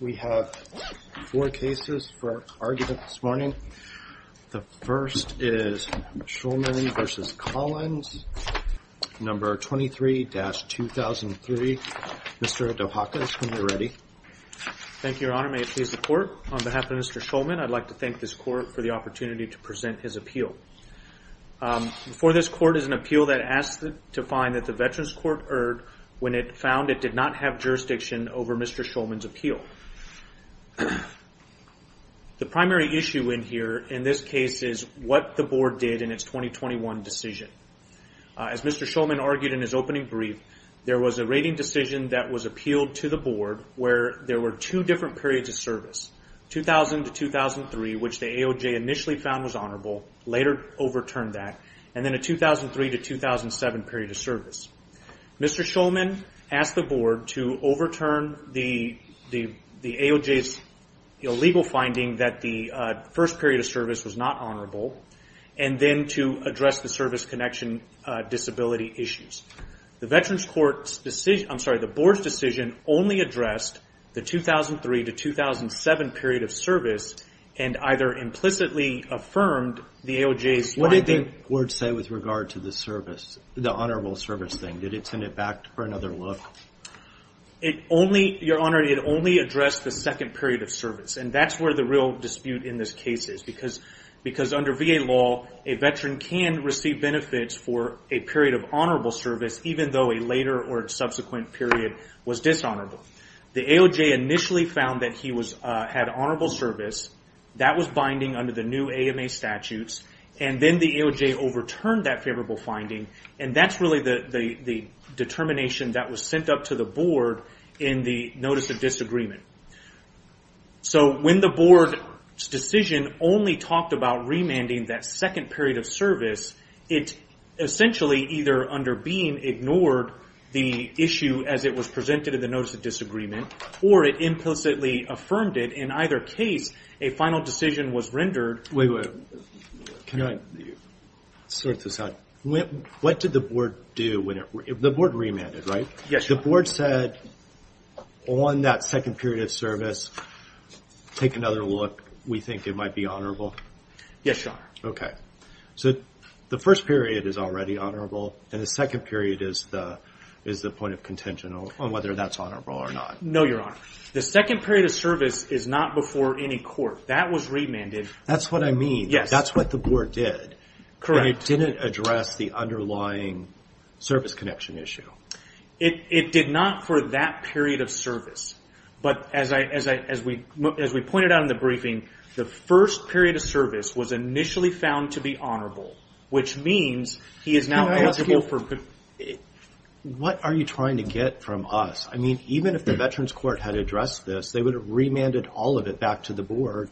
We have four cases for argument this morning. The first is Shulman v. Collins, number 23-2003. Mr. Dohakis, when you're ready. Thank you, Your Honor. May it please the court. On behalf of Mr. Shulman, I'd like to thank this court for the opportunity to present his appeal. Before this court is an appeal that asks to find that the Veterans Court erred when it found it did not have jurisdiction over Mr. Shulman's appeal. The primary issue in here, in this case, is what the board did in its 2021 decision. As Mr. Shulman argued in his opening brief, there was a rating decision that was appealed to the board where there were two different periods of service, 2000 to 2003, which the AOJ initially found was honorable, later overturned that, and then a 2003 to 2007 period of service. Mr. Shulman asked the board to overturn the AOJ's legal finding that the first period of service was not honorable, and then to address the service connection disability issues. The Veterans Court's decision, I'm sorry, the board's decision only addressed the 2003 to 2007 period of service, and either implicitly affirmed the AOJ's finding. What did the board say with regard to the service, the honorable service thing? Did it send it back for another look? Your Honor, it only addressed the second period of service, and that's where the real dispute in this case is, because under VA law, a veteran can receive benefits for a period of honorable service, even though a later or subsequent period was dishonorable. The AOJ initially found that he had honorable service. That was binding under the new AMA statutes, and then the AOJ overturned that favorable finding, and that's really the determination that was sent up to the board in the notice of disagreement. When the board's decision only talked about remanding that second period of service, it essentially either under Bean ignored the issue as it was presented in the notice of disagreement, or it implicitly affirmed it. In either case, a final decision was rendered. Wait, wait. Can I sort this out? What did the board do? The board remanded, right? Yes, Your Honor. The board said, on that second period of service, take another look. We think it might be honorable. Yes, Your Honor. OK. So the first period is already honorable, and the second period is the point of contention on whether that's honorable or not. No, Your Honor. The second period of service is not before any court. That was remanded. That's what I mean. Yes. That's what the board did. Correct. And it didn't address the underlying service connection issue. It did not for that period of service. But as we pointed out in the briefing, the first period of service was initially found to be honorable, which means he is now eligible for. What are you trying to get from us? I mean, even if the Veterans Court had addressed this, they would have remanded all of it back to the board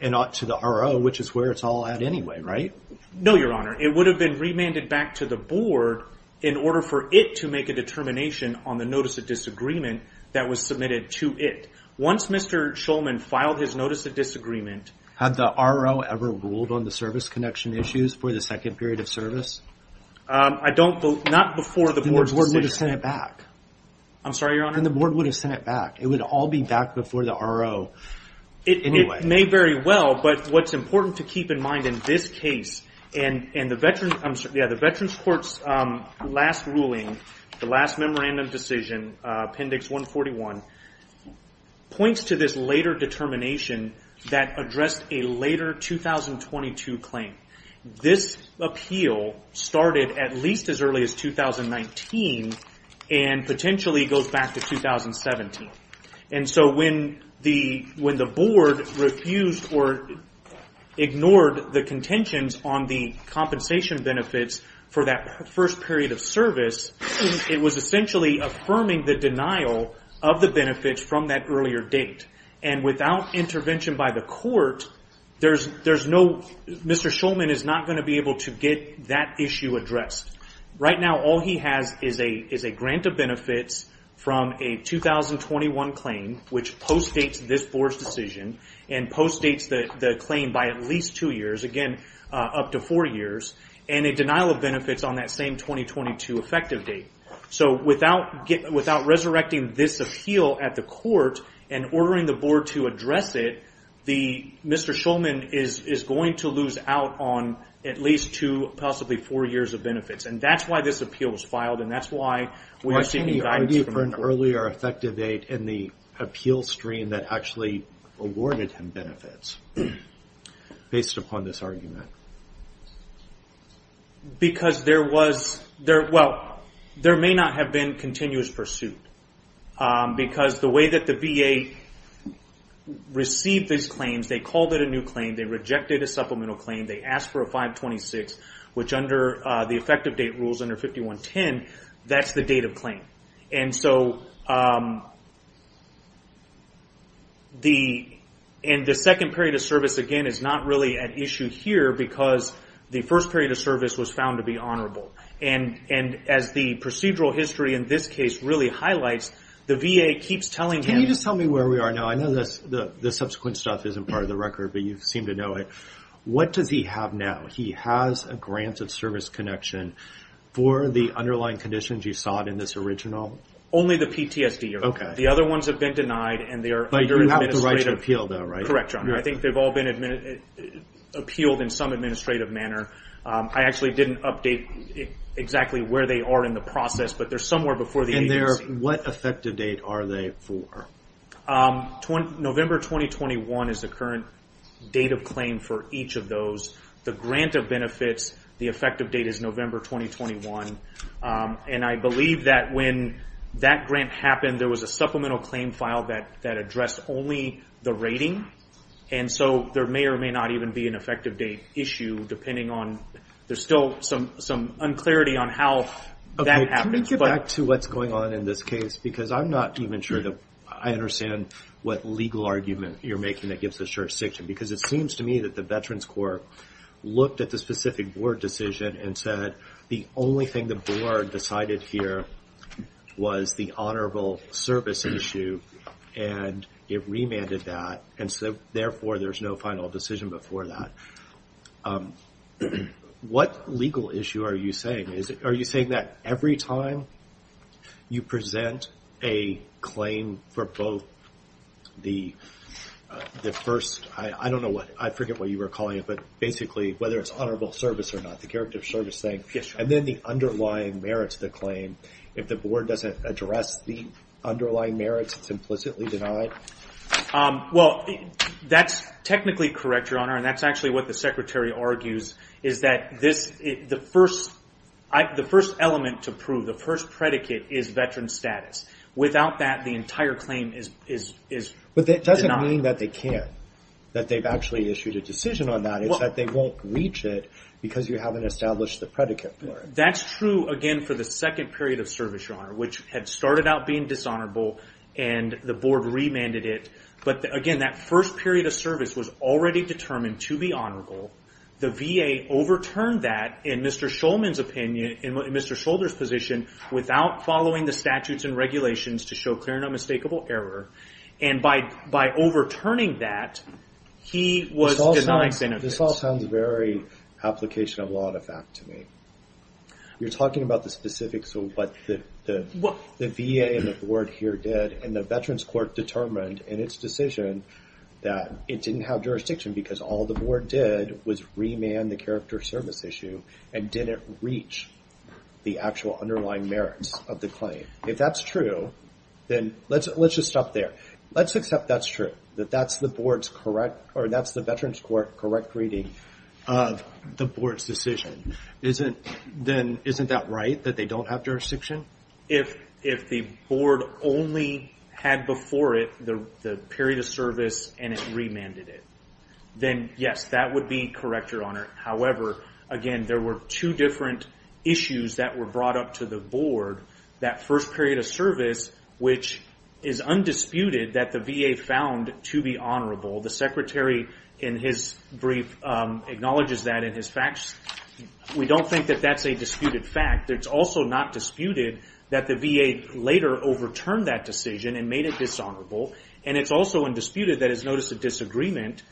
and not to the R.O., which is where it's all at anyway, right? No, Your Honor. It would have been remanded back to the board in order for it to make a determination on the notice of disagreement that was submitted to it. Once Mr. Shulman filed his notice of disagreement. Had the R.O. ever ruled on the service connection issues for the second period of service? I don't believe. Not before the board's decision. Then the board would have sent it back. I'm sorry, Your Honor? Then the board would have sent it back. It would all be back before the R.O. It may very well, but what's important to keep in mind in this case, and the Veterans Court's last ruling, the last memorandum decision, Appendix 141, points to this later determination that addressed a later 2022 claim. This appeal started at least as early as 2019 and potentially goes back to 2017. And so when the board refused or ignored the contentions on the compensation benefits for that first period of service, it was essentially affirming the denial of the benefits from that earlier date. And without intervention by the court, Mr. Shulman is not going to be able to get that issue addressed. Right now, all he has is a grant of benefits from a 2021 claim, which postdates this board's decision and postdates the claim by at least two years, again, up to four years, and a denial of benefits on that same 2022 effective date. So without resurrecting this appeal at the court and ordering the board to address it, Mr. Shulman is going to lose out on at least two, possibly four years of benefits. And that's why this appeal was filed and that's why we are seeking guidance from the court. Robert Chisholm Why can't he argue for an earlier effective date in the appeal stream that actually awarded him benefits based upon this argument? Jeff Shulman Because there was... Well, there may not have been continuous pursuit. Because the way that the VA received these claims, they called it a new claim, they rejected a supplemental claim, they asked for a 526, which under the effective date rules under 5110, that's the date of claim. And so the second period of service, again, is not really an issue here because the first period of service was found to be honorable. And as the procedural history in this case really highlights, the VA keeps telling him... Robert Chisholm Can you just tell me where we are now? I know the subsequent stuff isn't part of the record, but you seem to know it. What does he have now? He has a grant of service connection for the underlying conditions you saw in this original? Jeff Shulman Only the PTSD. The other ones have been denied and they are under administrative... Robert Chisholm But you have the right to appeal though, right? Jeff Shulman Correct, John. I think they've all been appealed in some administrative manner. I actually didn't update exactly where they are in the process, but they're somewhere before the agency. Robert Chisholm What effective date are they for? Jeff Shulman November 2021 is the current date of claim for each of those. The grant of benefits, the effective date is November 2021. And I believe that when that grant happened, there was a supplemental claim file that addressed only the rating. And so there may or may not even be an effective date issue depending on... There's still some unclarity on how that happens. Robert Chisholm Can we get back to what's going on in this case? Because I'm not even sure that I understand what legal argument you're making that gives us your section. Because it seems to me that the Veterans Corp looked at the specific board decision and said the only thing the board decided here was the honorable service issue. And it remanded that. And so therefore, there's no final decision before that. What legal issue are you saying? Are you saying that every time you present a claim for both the first... I don't know what... I forget what you were calling it. But basically, whether it's honorable service or not, the character of service thing. And then the underlying merits of the claim. If the board doesn't address the underlying merits, it's implicitly denied? Well, that's technically correct, Your Honor. And that's actually what the secretary argues is that the first element to prove, the first predicate is veteran status. Without that, the entire claim is denied. But that doesn't mean that they can't. That they've actually issued a decision on that. It's that they won't reach it because you haven't established the predicate for it. That's true, again, for the second period of service, Your Honor, which had started out being dishonorable and the board remanded it. But again, that first period of service was already determined to be honorable. The VA overturned that, in Mr. Shulman's opinion, in Mr. Shulder's position, without following the statutes and regulations to show clear and unmistakable error. And by overturning that, he was denied benefits. This all sounds very application of law and effect to me. You're talking about the specifics of what the VA and the board here did. And the Veterans Court determined in its decision that it didn't have jurisdiction because all the board did was remand the character of service issue and didn't reach the actual underlying merits of the claim. If that's true, then let's just stop there. Let's accept that's true. That that's the board's correct, or that's the Veterans Court's correct reading of the board's decision. Then isn't that right, that they don't have jurisdiction? If the board only had before it the period of service and it remanded it, then yes, that would be correct, Your Honor. However, again, there were two different issues that were brought up to the board. That first period of service, which is undisputed that the VA found to be honorable. The secretary in his brief acknowledges that in his facts. We don't think that that's a disputed fact. It's also not disputed that the VA later overturned that decision and made it dishonorable. And it's also undisputed that his notice of disagreement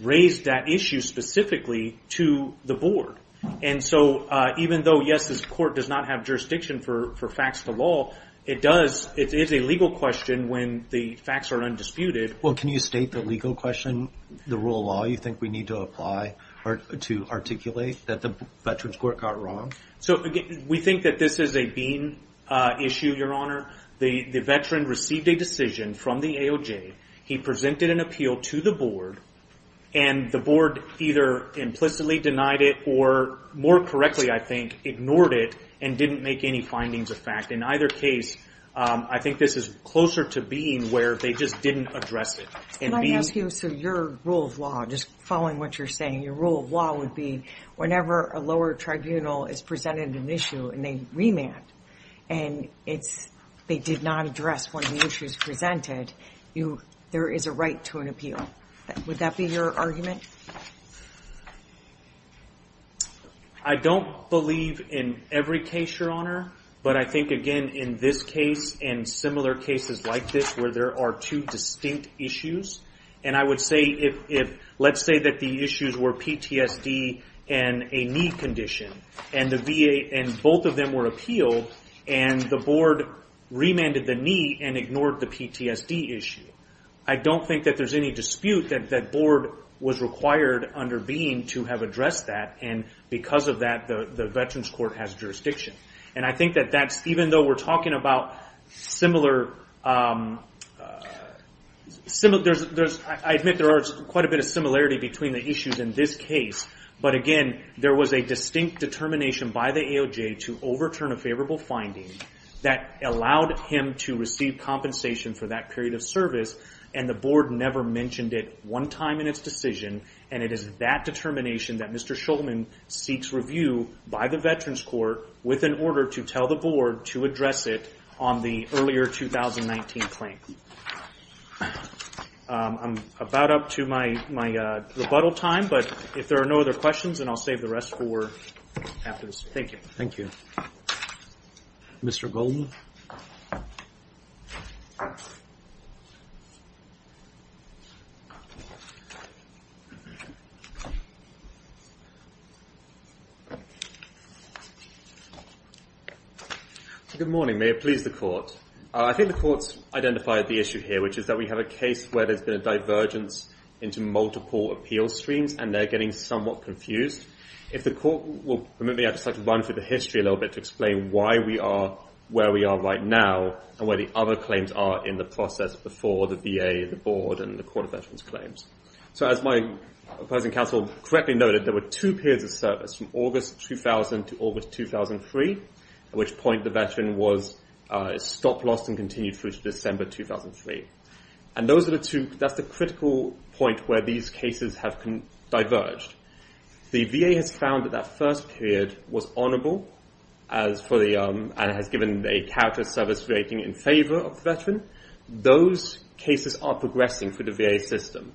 raised that issue specifically to the board. And so even though yes, this court does not have jurisdiction for facts to law, it does, it is a legal question when the facts are undisputed. Well, can you state the legal question, the rule of law, you think we need to apply or to articulate that the Veterans Court got wrong? So we think that this is a been issue, Your Honor. The veteran received a decision from the AOJ. He presented an appeal to the board. And the board either implicitly denied it or more correctly, I think, ignored it and didn't make any findings of fact. In either case, I think this is closer to being where they just didn't address it. Can I ask you, so your rule of law, just following what you're saying, your rule of law would be, whenever a lower tribunal is presented an issue and they remand, and they did not address one of the issues presented, you, there is a right to an appeal. Would that be your argument? I don't believe in every case, Your Honor. But I think again, in this case and similar cases like this, where there are two distinct issues. And I would say if, let's say that the issues were PTSD and a knee condition, and the VA and both of them were appealed, and the board remanded the knee and ignored the PTSD issue. I don't think that there's any dispute that that board was required under being to have addressed that. And because of that, the Veterans Court has jurisdiction. And I think that that's, even though we're talking about similar, I admit there are quite a bit of similarity between the issues in this case. But again, there was a distinct determination by the AOJ to overturn a favorable finding that allowed him to receive compensation for that period of service. And the board never mentioned it one time in its decision. And it is that determination that Mr. Shulman seeks review by the Veterans Court with an order to tell the board to address it on the earlier 2019 claim. I'm about up to my rebuttal time, but if there are no other questions, then I'll save the rest for after this. Thank you. Thank you. Mr. Goldman. Good morning, may it please the court. I think the court's identified the issue here, which is that we have a case where there's been a divergence into multiple appeal streams and they're getting somewhat confused. If the court will permit me, I'd just like to run through the history a little bit to explain why we are where we are right now and where the other claims are in the process before the VA, the board, and the Court of Veterans Claims. So as my opposing counsel correctly noted, there were two periods of service from August 2000 to August 2003, at which point the veteran was stopped, lost, and continued through to December 2003. And that's the critical point where these cases have diverged. The VA has found that that first period was honorable and has given a character service rating in favor of the veteran. Those cases are progressing through the VA system.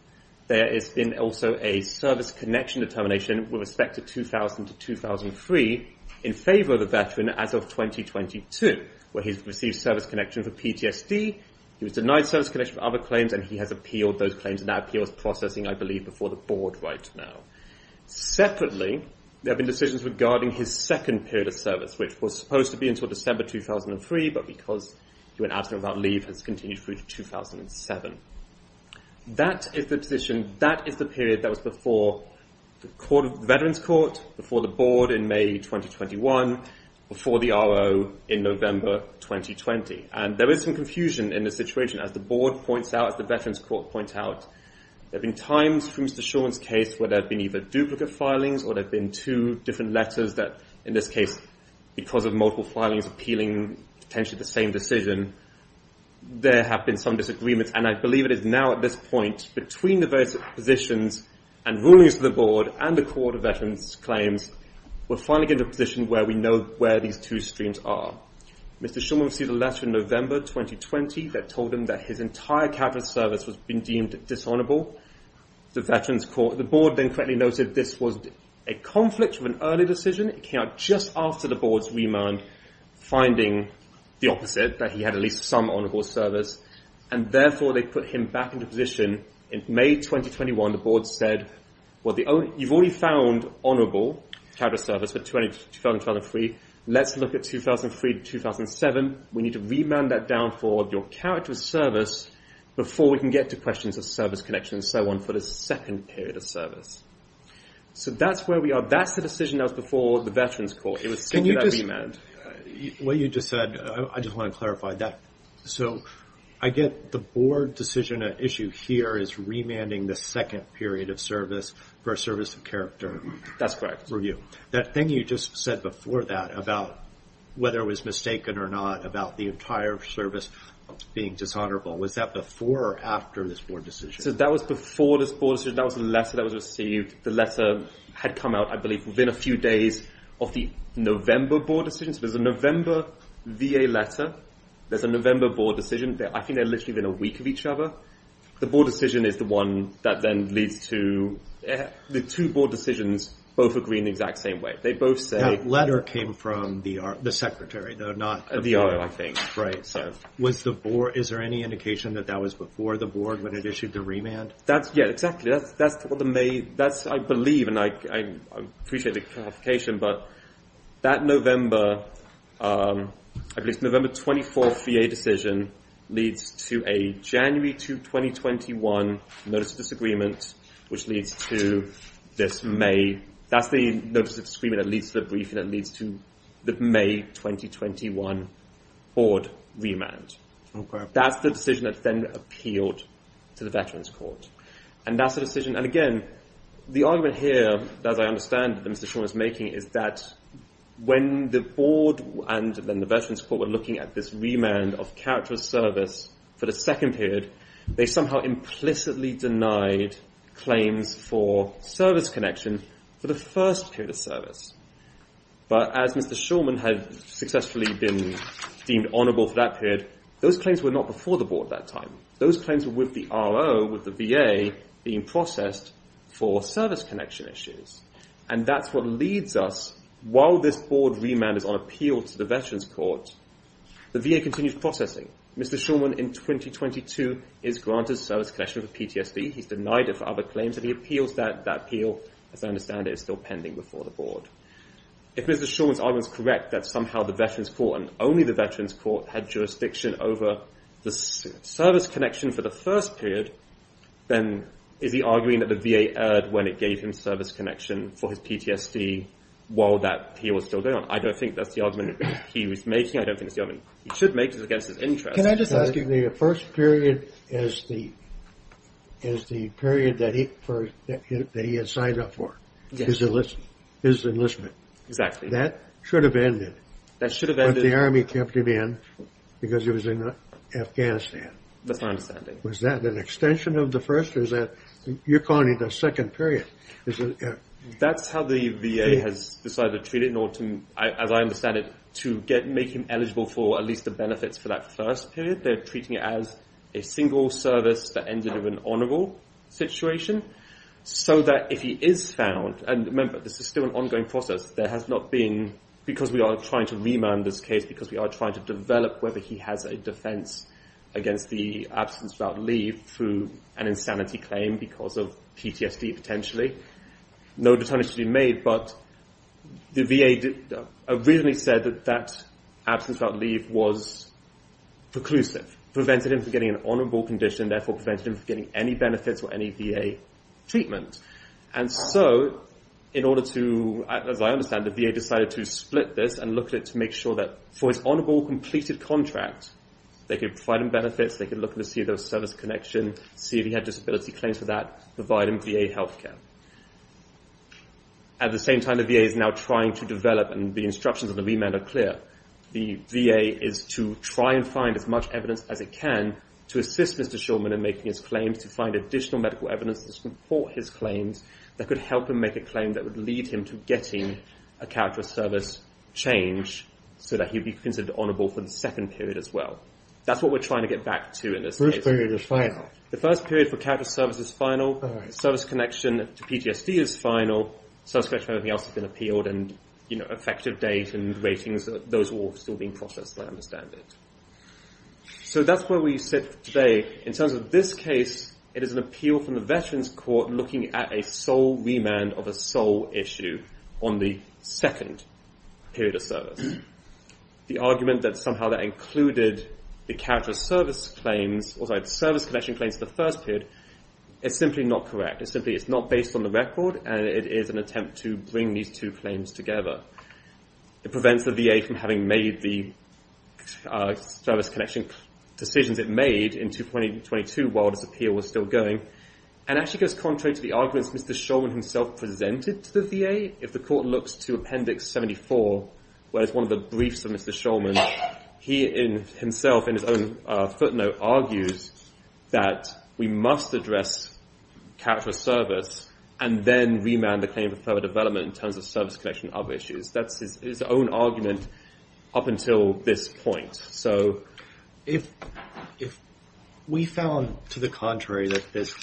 There has been also a service connection determination with respect to 2000 to 2003 in favor of the veteran as of 2022, where he's received service connection for PTSD. He was denied service connection for other claims and he has appealed those claims and that appeal is processing, I believe, before the board right now. Separately, there have been decisions regarding his second period of service, which was supposed to be until December 2003, but because he went absent without leave, has continued through to 2007. That is the position, that is the period that was before the Veterans Court, before the board in May 2021, before the RO in November 2020. And there is some confusion in this situation. As the board points out, as the Veterans Court points out, there have been times for Mr. Shulman's case where there have been either duplicate filings or there have been two different letters that, in this case, because of multiple filings appealing potentially the same decision, there have been some disagreements. And I believe it is now at this point, between the various positions and rulings of the board and the Court of Veterans Claims, we're finally getting to a position where we know where these two streams are. Mr. Shulman received a letter in November 2020 that told him that his entire character service was being deemed dishonorable. The Veterans Court, the board then correctly noted this was a conflict of an early decision. It came out just after the board's remand, finding the opposite, that he had at least some honorable service. And therefore, they put him back into position. In May 2021, the board said, well, you've already found honorable character service for 2012 and three. Let's look at 2003 to 2007. We need to remand that down for your character service before we can get to questions of service connection and so on for the second period of service. So that's where we are. That's the decision that was before the Veterans Court. It was still without remand. What you just said, I just want to clarify that. So I get the board decision issue here is remanding the second period of service for a service of character. That's correct. For you. That thing you just said before that about whether it was mistaken or not about the entire service being dishonorable. Was that before or after this board decision? So that was before this board decision. That was a letter that was received. The letter had come out, I believe, within a few days of the November board decision. So there's a November VA letter. There's a November board decision. I think they're literally within a week of each other. The board decision is the one that then leads to... The two board decisions both agree in the exact same way. They both say... That letter came from the secretary, though not the board. The RO, I think. Right. Was the board... Is there any indication that that was before the board when it issued the remand? That's... Yeah, exactly. That's what the May... That's, I believe, and I appreciate the clarification, but that November, at least November 24th VA decision leads to a January 2, 2021 notice of disagreement, which leads to this May... That's the notice of disagreement that leads to the briefing that leads to the May 2021 board remand. That's the decision that's then appealed to the Veterans Court. And that's the decision. And again, the argument here, as I understand that Mr. Shaw is making, is that when the board and then the Veterans Court were looking at this remand of character of service for the second period, they somehow implicitly denied claims for service connection for the first period of service. But as Mr. Shulman had successfully been deemed honorable for that period, those claims were not before the board at that time. Those claims were with the RO, with the VA, being processed for service connection issues. And that's what leads us, while this board remand is on appeal to the Veterans Court, the VA continues processing. Mr. Shulman, in 2022, is granted service connection for PTSD. He's denied it for other claims, and so he appeals that appeal. As I understand it, it's still pending before the board. If Mr. Shulman's argument is correct that somehow the Veterans Court and only the Veterans Court had jurisdiction over the service connection for the first period, then is he arguing that the VA erred when it gave him service connection for his PTSD while that appeal was still going on? I don't think that's the argument he was making. I don't think it's the argument he should make just against his interest. Can I just ask you, the first period is the period that he had signed up for, his enlistment. Exactly. That should have ended. That should have ended. But the Army kept him in because he was in Afghanistan. That's my understanding. Was that an extension of the first, or is that, you're calling it a second period? That's how the VA has decided to treat it in order to, as I understand it, to make him eligible for at least the benefits for that first period. They're treating it as a single service that ended in an honorable situation so that if he is found, and remember, this is still an ongoing process. There has not been, because we are trying to remand this case, because we are trying to develop whether he has a defense against the absence without leave through an insanity claim because of PTSD, potentially. No determination to be made, but the VA originally said that absence without leave was preclusive, prevented him from getting an honorable condition, therefore prevented him from getting any benefits or any VA treatment. And so, in order to, as I understand it, the VA decided to split this and look at it to make sure that for his honorable completed contract, they could provide him benefits, they could look to see if there was service connection, see if he had disability claims for that, provide him VA healthcare. At the same time, the VA is now trying to develop, and the instructions of the remand are clear, the VA is to try and find as much evidence as it can to assist Mr. Shulman in making his claims, to find additional medical evidence for his claims that could help him make a claim that would lead him to getting a character of service change so that he'd be considered honorable for the second period as well. That's what we're trying to get back to in this case. The first period is final. The first period for character of service is final. Service connection to PTSD is final. Service connection for everything else has been appealed, and effective date and ratings, those are all still being processed, I understand it. So that's where we sit today. In terms of this case, it is an appeal from the Veterans Court looking at a sole remand of a sole issue on the second period of service. The argument that somehow that included the character of service claims, or sorry, the service connection claims of the first period, it's simply not correct. It's simply, it's not based on the record, and it is an attempt to bring these two claims together. It prevents the VA from having made the service connection decisions it made in 2022 while this appeal was still going, and actually goes contrary to the arguments Mr. Shulman himself presented to the VA. If the court looks to Appendix 74, where it's one of the briefs of Mr. Shulman, he himself, in his own footnote, argues that we must address character of service and then remand the claim for further development in terms of service connection of issues. That's his own argument up until this point. So if we found, to the contrary, that this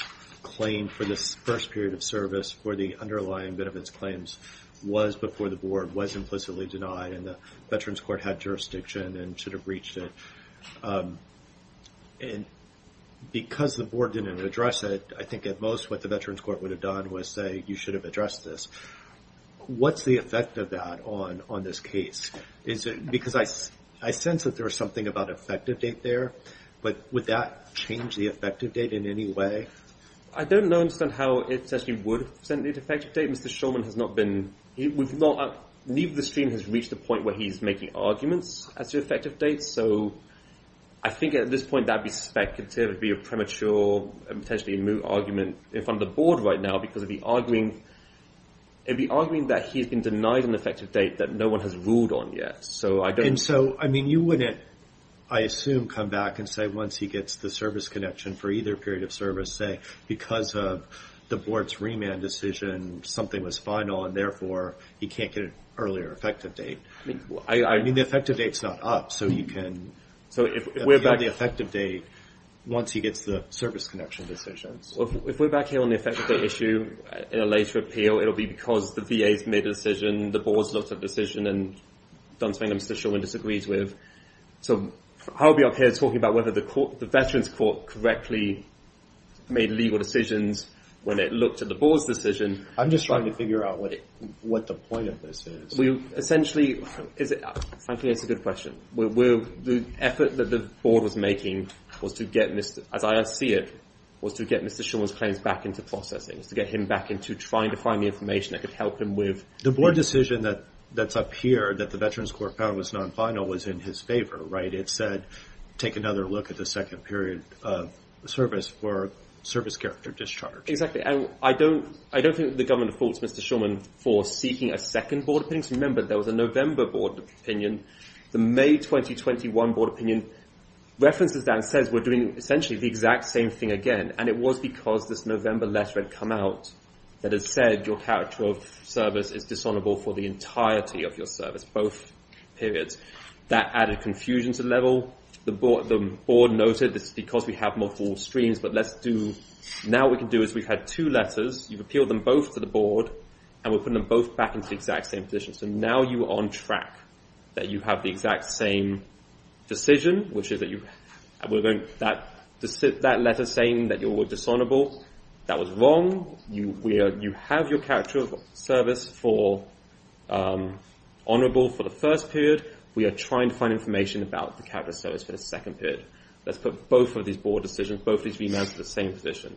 claim for this first period of service for the underlying bit of its claims was before the board was implicitly denied and the Veterans Court had jurisdiction and should have reached it, and because the board didn't address it, I think at most what the Veterans Court would have done was say, you should have addressed this. What's the effect of that on this case? Because I sense that there was something about effective date there, but would that change the effective date in any way? I don't understand how it essentially would have sent the effective date. Mr. Shulman has not been, neither the stream has reached the point where he's making arguments as to effective dates, so I think at this point that would be speculative, it would be a premature, potentially a moot argument in front of the board right now because it'd be arguing that he's been denied an effective date that no one has ruled on yet. So I don't. And so, I mean, you wouldn't, I assume, come back and say once he gets the service connection for either period of service, say because of the board's remand decision, something was final and therefore he can't get an earlier effective date. I mean, the effective date's not up, so you can appeal the effective date once he gets the service connection decisions. If we're back here on the effective date issue in a later appeal, it'll be because the VA's made a decision, the board's looked at the decision, and done something that Mr. Shulman disagrees with. So I'll be up here talking about whether the Veterans Court correctly made legal decisions when it looked at the board's decision. I'm just trying to figure out what the point of this is. Essentially, frankly, it's a good question. The effort that the board was making was to get, Mr. Shulman's claims back into processing, is to get him back into trying to find the information that could help him with. The board decision that's up here that the Veterans Court found was non-final was in his favor, right? It said, take another look at the second period of service for service character discharge. Exactly, and I don't think the government faults Mr. Shulman for seeking a second board opinion. So remember, there was a November board opinion. The May 2021 board opinion references that and says we're doing essentially the exact same thing again. And it was because this November letter had come out that it said your character of service is dishonorable for the entirety of your service, both periods. That added confusion to the level. The board noted, this is because we have multiple streams, but let's do, now what we can do is we've had two letters. You've appealed them both to the board and we're putting them both back into the exact same position. So now you are on track that you have the exact same decision, which is that you, that letter saying that you were dishonorable, that was wrong. You have your character of service for honorable for the first period. We are trying to find information about the character of service for the second period. Let's put both of these board decisions, both of these remands to the same position.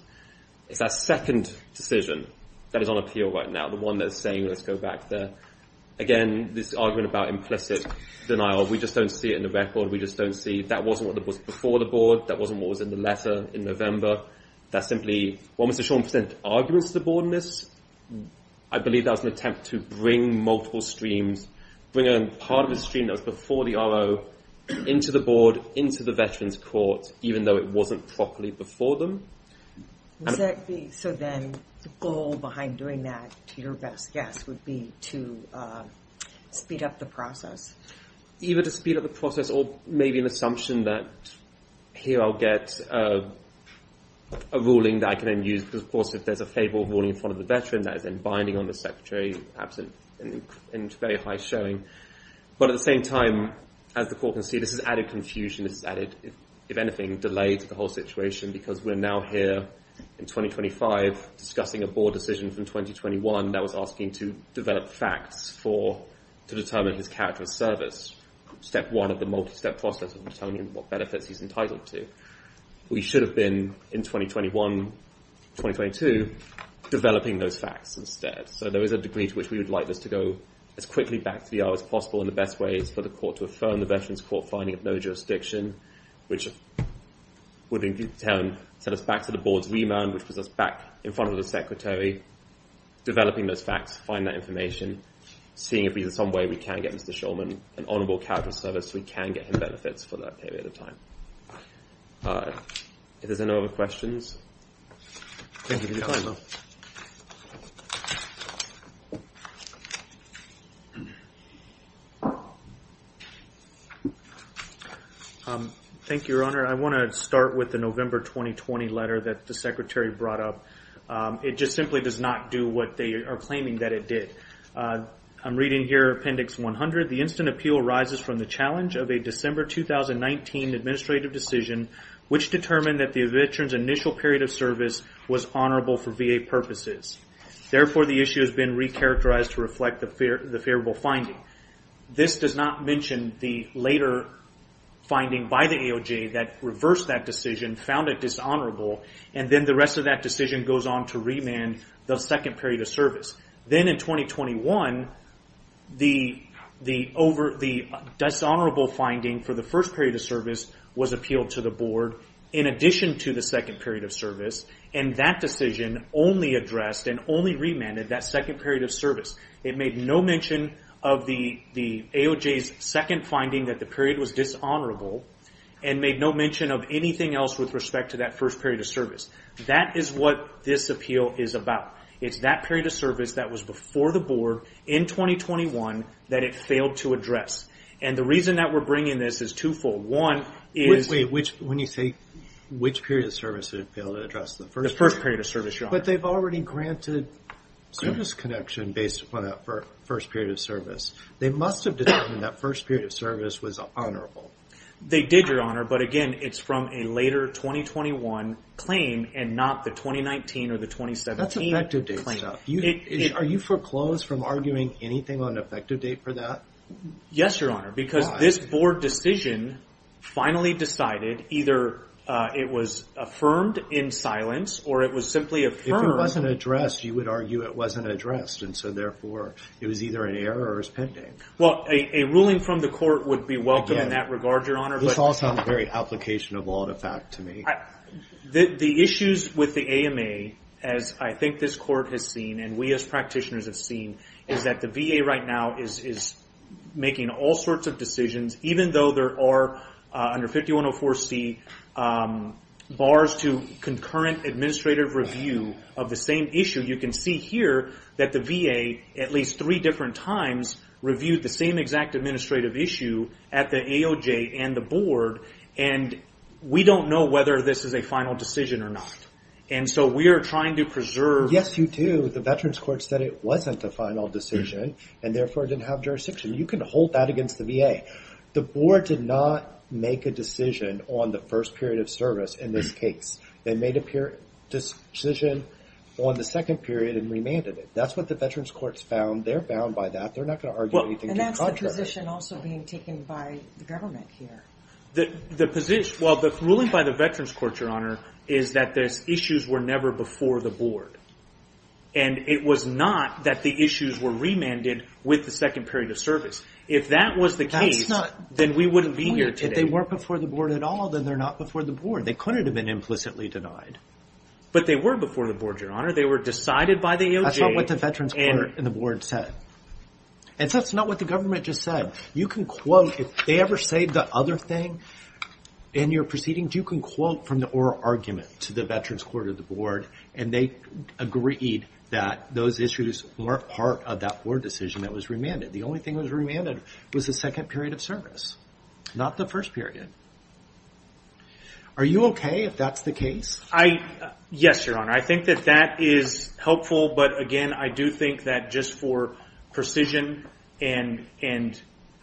It's that second decision that is on appeal right now, the one that is saying, let's go back there. Again, this argument about implicit denial, we just don't see it in the record. We just don't see, that wasn't what was before the board. That wasn't what was in the letter in November. That's simply, well, Mr. Shorn sent arguments to the board on this. I believe that was an attempt to bring multiple streams, bring a part of a stream that was before the RO into the board, into the Veterans Court, even though it wasn't properly before them. So then the goal behind doing that, to your best guess, would be to speed up the process. Either to speed up the process or maybe an assumption that, here I'll get a ruling that I can then use, because of course, if there's a favorable ruling in front of the veteran, that is then binding on the secretary, perhaps in very high showing. But at the same time, as the court can see, this has added confusion, this has added, if anything, delay to the whole situation, because we're now here in 2025, discussing a board decision from 2021 that was asking to develop facts to determine his character of service. Step one of the multi-step process of determining what benefits he's entitled to. We should have been, in 2021, 2022, developing those facts instead. So there is a degree to which we would like this to go as quickly back to the RO as possible and the best ways for the court to affirm the Veterans Court finding of no jurisdiction, which would in turn set us back to the board's remand, which puts us back in front of the secretary, developing those facts, find that information, seeing if there's some way we can get Mr. Shulman an honorable character of service so we can get him benefits for that period of time. If there's no other questions. Thank you for your time. Thank you, Your Honor. I want to start with the November 2020 letter that the secretary brought up. It just simply does not do what they are claiming that it did. I'm reading here Appendix 100, the instant appeal arises from the challenge of a December 2019 administrative decision, which determined that the veteran's initial period of service was honorable for VA purposes. Therefore, the issue has been re-characterized to reflect the favorable finding. This does not mention the later finding by the AOJ that reversed that decision, found it dishonorable, and then the rest of that decision goes on to remand the second period of service. Then in 2021, the dishonorable finding for the first period of service was appealed to the board in addition to the second period of service, and that decision only addressed and only remanded that second period of service. It made no mention of the AOJ's second finding that the period was dishonorable and made no mention of anything else with respect to that first period of service. That is what this appeal is about. It's that period of service that was before the board in 2021 that it failed to address, and the reason that we're bringing this is twofold. One is- Wait, wait, when you say which period of service it failed to address, the first period? The first period of service, Your Honor. But they've already granted service connection based upon that first period of service. They must have determined that first period of service was honorable. They did, Your Honor, but again, it's from a later 2021 claim and not the 2019 or the 2017 claim. That's effective date stuff. Are you foreclosed from arguing anything on an effective date for that? Yes, Your Honor, because this board decision finally decided either it was affirmed in silence or it was simply affirmed- If it wasn't addressed, you would argue it wasn't addressed, and so therefore it was either an error or it was pending. Well, a ruling from the court would be welcome in that regard, Your Honor, but- Again, this all sounds very application of law and effect to me. The issues with the AMA, as I think this court has seen and we as practitioners have seen, is that the VA right now is making all sorts of decisions, even though there are, under 5104C, bars to concurrent administrative review of the same issue. You can see here that the VA, at least three different times, reviewed the same exact administrative issue at the AOJ and the board, and we don't know whether this is a final decision or not, and so we are trying to preserve- Yes, you do. The Veterans Court said it wasn't a final decision, and therefore it didn't have jurisdiction. You can hold that against the VA. The board did not make a decision on the first period of service in this case. They made a decision on the second period and remanded it. That's what the Veterans Court's found. They're bound by that. They're not gonna argue anything to the contrary. And that's the position also being taken by the government here. The position, well, the ruling by the Veterans Court, Your Honor, is that the issues were never before the board, and it was not that the issues were remanded with the second period of service. If that was the case- That's not the point. Then we wouldn't be here today. If they weren't before the board at all, then they're not before the board. They couldn't have been implicitly denied. But they were before the board, Your Honor. They were decided by the AOJ, and- That's not what the Veterans Court and the board said. And that's not what the government just said. You can quote, if they ever say the other thing in your proceedings, you can quote from the oral argument to the Veterans Court or the board, and they agreed that those issues weren't part of that board decision that was remanded. The only thing that was remanded was the second period of service, not the first period. Are you okay if that's the case? Yes, Your Honor. I think that that is helpful. But again, I do think that just for precision and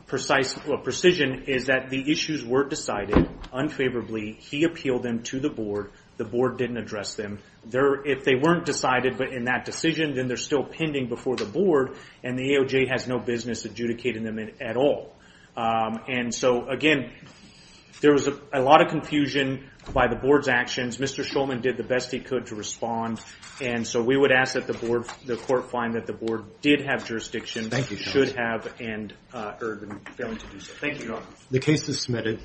precision is that the issues weren't decided unfavorably. He appealed them to the board. The board didn't address them. If they weren't decided in that decision, then they're still pending before the board, and the AOJ has no business adjudicating them at all. And so again, there was a lot of confusion by the board's actions. Mr. Shulman did the best he could to respond. And so we would ask that the court find that the board did have jurisdiction. Should have and are failing to do so. Thank you, Your Honor. The case is submitted.